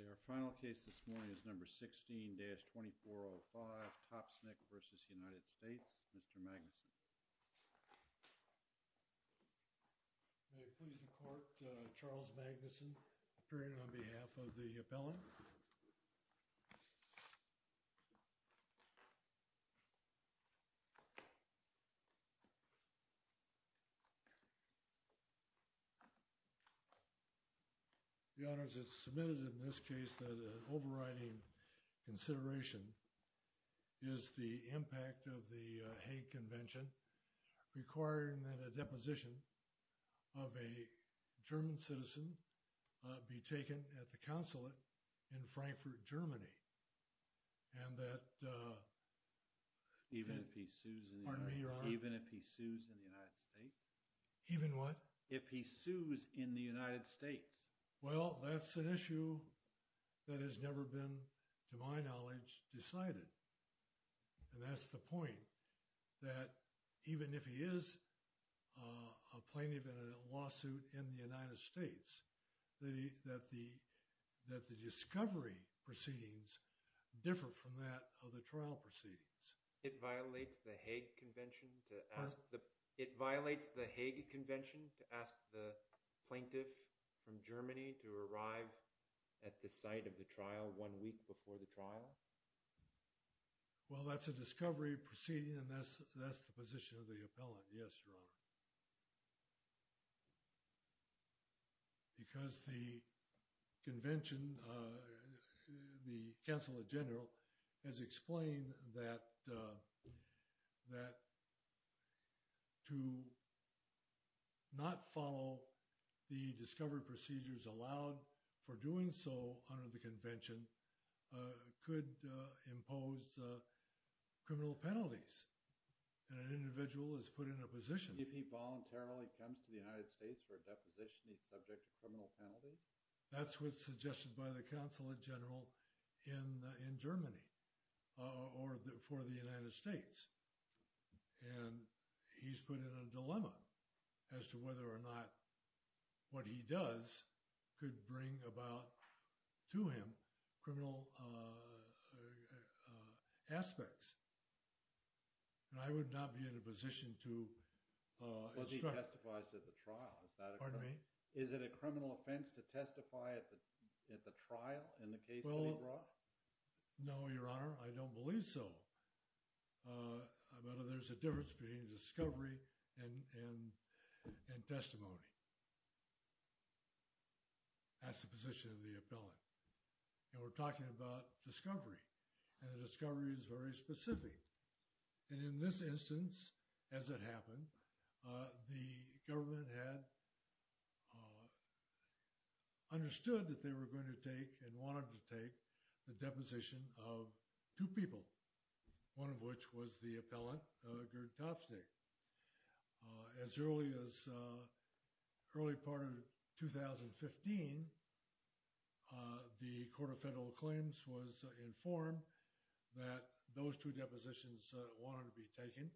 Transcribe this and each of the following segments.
Okay, our final case this morning is number 16-2405, Topsnick v. United States, Mr. Magnuson. May it please the court, Charles Magnuson, appearing on behalf of the appellant. The honors, it's submitted in this case that an overriding consideration is the impact of the Hague Convention requiring that a deposition of a German citizen be taken at the consulate in Frankfurt, Germany, and that even if he sues in the United States, well, that's an issue that has never been, to my knowledge, decided. And that's the point, that even if he is a plaintiff in a lawsuit in the United States, that the discovery proceedings differ from that of the trial proceedings. It violates the Hague Convention to ask the plaintiff from Germany to arrive at the site of the trial one week before the trial? Well, that's a discovery proceeding, and that's the position of the appellant. Yes, Your Honor. Because the convention, the consulate general has explained that to not follow the discovery procedures allowed for doing so under the convention could impose criminal penalties, and an individual is put in a position. If he voluntarily comes to the United States for a deposition, he's subject to criminal penalties? That's what's suggested by the consulate general in Germany, or for the United States. And he's put in a dilemma as to whether or not what he does could bring about to him criminal aspects. And I would not be in a position to instruct. Because he testifies at the trial, is that a criminal offense? Pardon me? Is it a criminal offense to testify at the trial in the case that he brought? No, Your Honor, I don't believe so. But there's a difference between discovery and testimony. That's the position of the appellant. And we're talking about discovery, and the discovery is very specific. And in this instance, as it happened, the government had understood that they were going to take and wanted to take the deposition of two people, one of which was the appellant, Gerd Topstein. As early as early part of 2015, the Court of Federal Claims was informed that those two depositions wanted to be taken.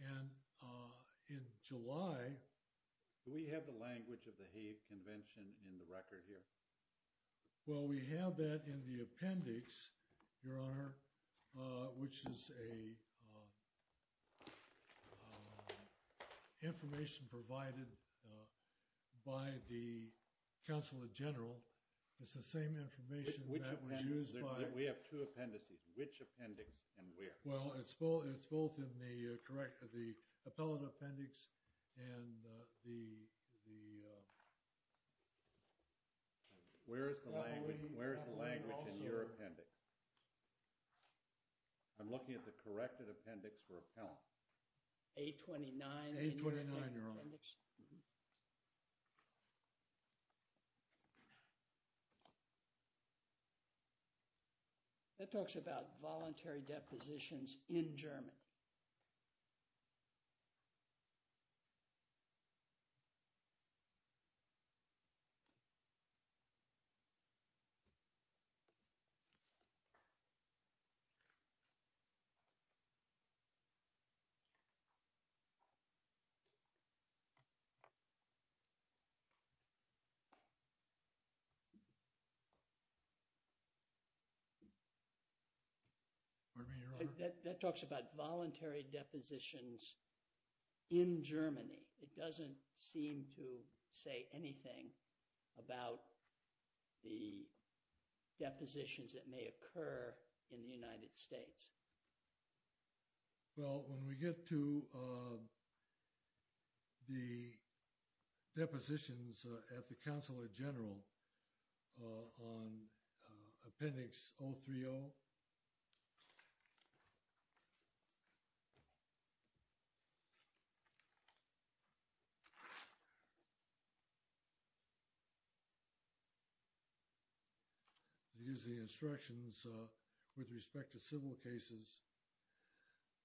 And in July... Do we have the language of the Hague Convention in the record here? Well, we have that in the appendix, Your Honor, which is information provided by the Consulate General. It's the same information that was used by... Which appendix? We have two appendices. Which appendix and where? Well, it's both in the appellate appendix and the... Where is the language in your appendix? I'm looking at the corrected appendix for appellant. A-29. A-29, Your Honor. Appellant appendix. That talks about voluntary depositions in Germany. Pardon me, Your Honor. That talks about voluntary depositions in Germany. It doesn't seem to say anything about the depositions that may occur in the United States. Well, when we get to the depositions at the Consulate General on appendix 030... Use the instructions with respect to civil cases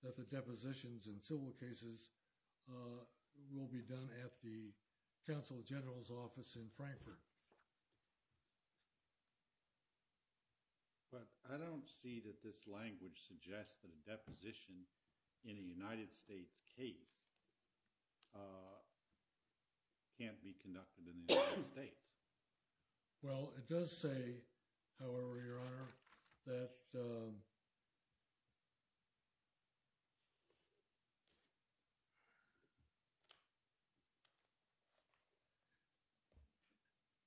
that the depositions in civil cases will be done at the Consulate General's office in Frankfurt. But I don't see that this language suggests that a deposition in a United States case can't be conducted in the United States. Well, it does say, however, Your Honor, that...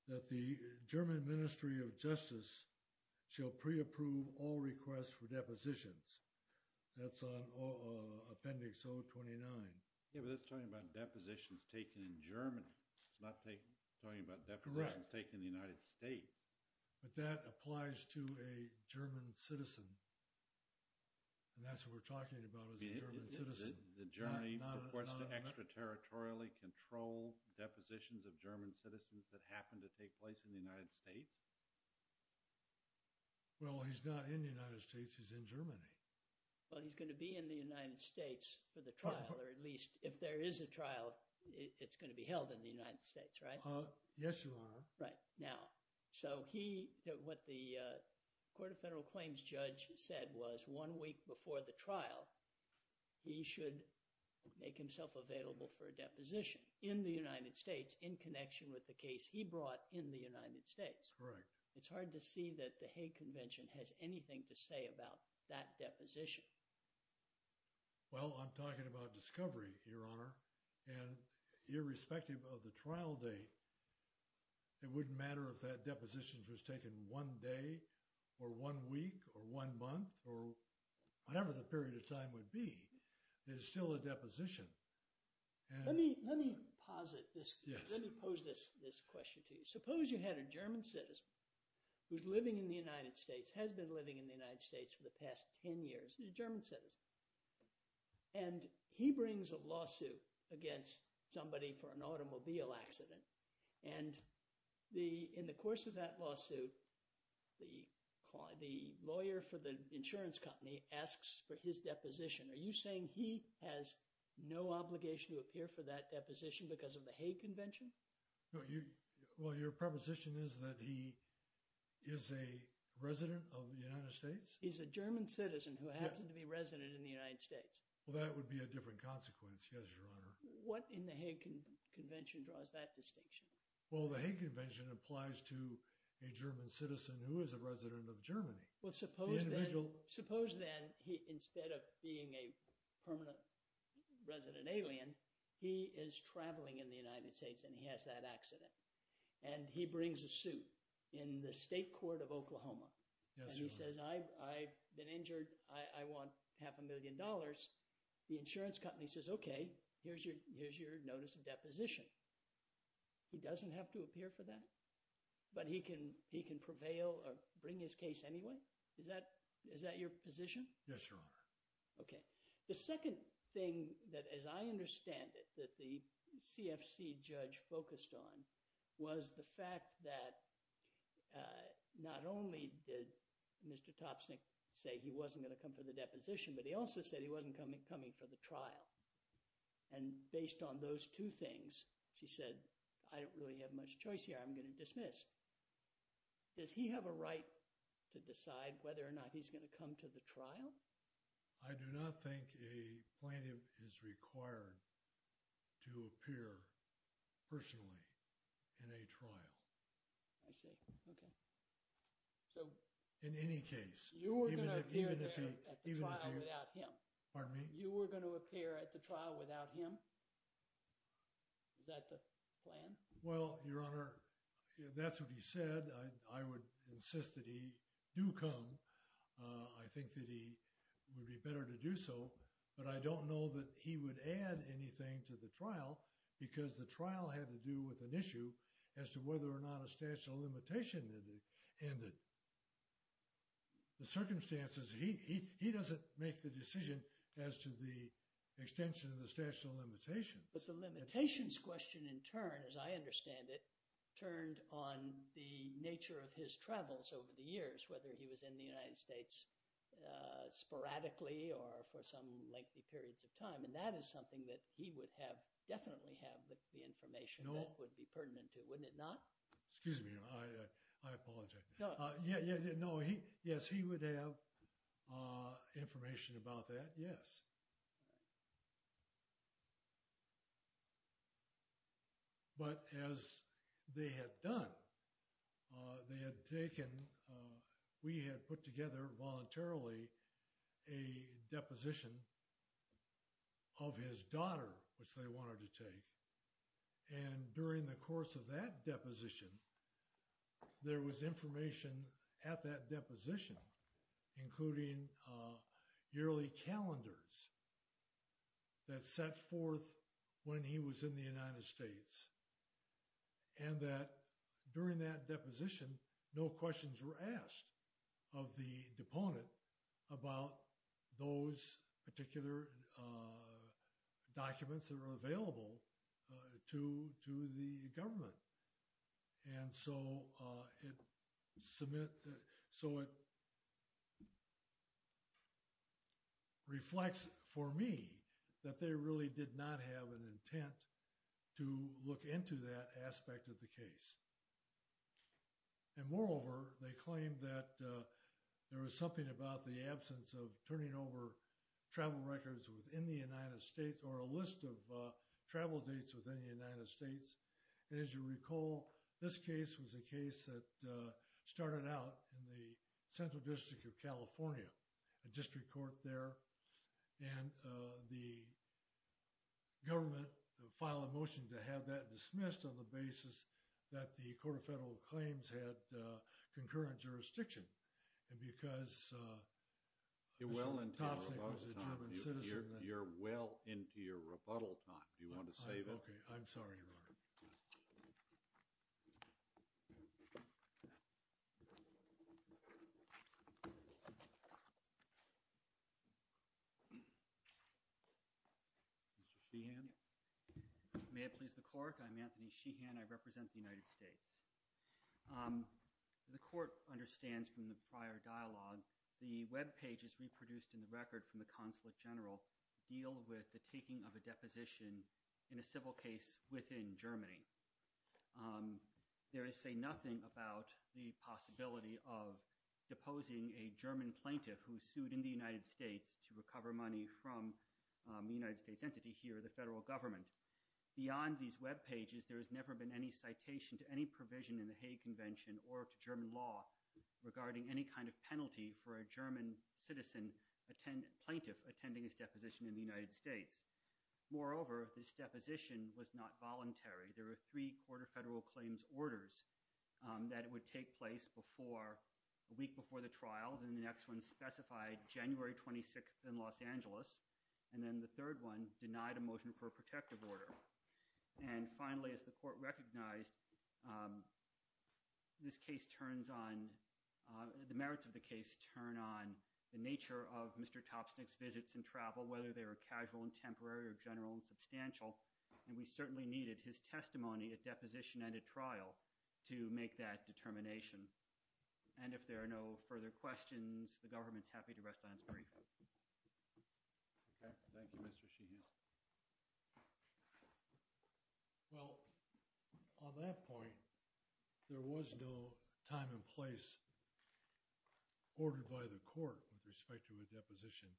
That the German Ministry of Justice shall pre-approve all requests for depositions. That's on appendix 029. Yeah, but that's talking about depositions taken in Germany. It's not talking about depositions taken in the United States. But that applies to a German citizen. And that's what we're talking about, is a German citizen. The Germany, of course, to extraterritorially control depositions of German citizens that happen to take place in the United States? Well, he's not in the United States. He's in Germany. Well, he's going to be in the United States for the trial, or at least if there is a trial, it's going to be held in the United States, right? Yes, Your Honor. Right. Now, so he... What the Court of Federal Claims judge said was one week before the trial, he should make himself available for a deposition in the United States in connection with the case he brought in the United States. Correct. It's hard to see that the Hague Convention has anything to say about that deposition. Well, I'm talking about discovery, Your Honor. And irrespective of the trial date, it wouldn't matter if that deposition was taken one day or one week or one month or whatever the period of time would be. There's still a deposition. Let me posit this. Yes. Let me pose this question to you. Suppose you had a German citizen who's living in the United States, has been living in the United States for the past 10 years, a German citizen. And he brings a lawsuit against somebody for an automobile accident. And in the course of that lawsuit, the lawyer for the insurance company asks for his deposition. Are you saying he has no obligation to appear for that deposition because of the Hague Convention? Well, your proposition is that he is a resident of the United States? He's a German citizen who happens to be a resident in the United States. Well, that would be a different consequence, yes, Your Honor. What in the Hague Convention draws that distinction? Well, the Hague Convention applies to a German citizen who is a resident of Germany. Well, suppose then he – instead of being a permanent resident alien, he is traveling in the United States and he has that accident. And he brings a suit in the state court of Oklahoma. Yes, Your Honor. And he says, I've been injured. I want half a million dollars. The insurance company says, okay, here's your notice of deposition. He doesn't have to appear for that? But he can prevail or bring his case anyway? Is that your position? Yes, Your Honor. Okay. The second thing that, as I understand it, that the CFC judge focused on was the fact that not only did Mr. Topsnick say he wasn't going to come for the deposition, but he also said he wasn't coming for the trial. And based on those two things, she said, I don't really have much choice here. I'm going to dismiss. Does he have a right to decide whether or not he's going to come to the trial? I do not think a plaintiff is required to appear personally in a trial. I see. Okay. So – In any case – You were going to appear there at the trial without him. Pardon me? You were going to appear at the trial without him? Is that the plan? Well, Your Honor, that's what he said. I would insist that he do come. I think that he would be better to do so. But I don't know that he would add anything to the trial because the trial had to do with an issue as to whether or not a statute of limitation ended. The circumstances – he doesn't make the decision as to the extension of the statute of limitations. But the limitations question in turn, as I understand it, turned on the nature of his travels over the years, whether he was in the United States sporadically or for some lengthy periods of time. And that is something that he would have – definitely have the information that would be pertinent to. Wouldn't it not? Excuse me, Your Honor. I apologize. No. Yes, he would have information about that, yes. But as they had done, they had taken – we had put together voluntarily a deposition of his daughter, which they wanted to take. And during the course of that deposition, there was information at that deposition, including yearly calendars that set forth when he was in the United States. And that during that deposition, no questions were asked of the deponent about those particular documents that were available to the government. And so it reflects for me that they really did not have an intent to look into that aspect of the case. And moreover, they claimed that there was something about the absence of turning over travel records within the United States or a list of travel dates within the United States. And as you recall, this case was a case that started out in the Central District of California, a district court there. And the government filed a motion to have that dismissed on the basis that the Court of Federal Claims had concurrent jurisdiction. And because Mr. Topshik was a German citizen – You're well into your rebuttal time. You're well into your rebuttal time. Do you want to say that? Okay. I'm sorry, Your Honor. Mr. Sheehan? May it please the Court? I'm Anthony Sheehan. I represent the United States. The Court understands from the prior dialogue the webpages reproduced in the record from the consulate general deal with the taking of a deposition in a civil case within Germany. There is, say, nothing about the possibility of deposing a German plaintiff who sued in the United States to recover money from a United States entity here, the federal government. Beyond these webpages, there has never been any citation to any provision in the Hague Convention or to German law regarding any kind of penalty for a German citizen – plaintiff attending his deposition in the United States. Moreover, this deposition was not voluntary. There were three Court of Federal Claims orders that would take place before – a week before the trial. Then the next one specified January 26th in Los Angeles. And then the third one denied a motion for a protective order. And finally, as the Court recognized, this case turns on – the merits of the case turn on the nature of Mr. Topsnick's visits and travel, whether they were casual and temporary or general and substantial. And we certainly needed his testimony at deposition and at trial to make that determination. And if there are no further questions, the government's happy to rest on its brief. Okay. Thank you, Mr. Sheehan. Well, on that point, there was no time and place ordered by the court with respect to a deposition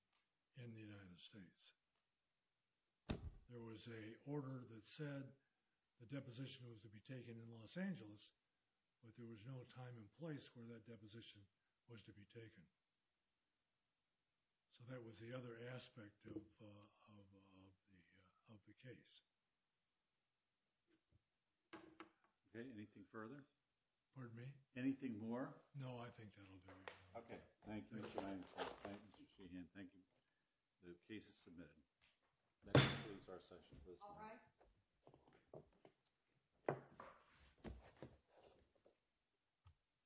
in the United States. There was a order that said the deposition was to be taken in Los Angeles, but there was no time and place where that deposition was to be taken. So that was the other aspect of the case. Okay. Anything further? Pardon me? Anything more? No, I think that'll do it. Okay. Thank you. Thank you. Thank you, Mr. Sheehan. Thank you. The case is submitted. Next, please, our session. All rise.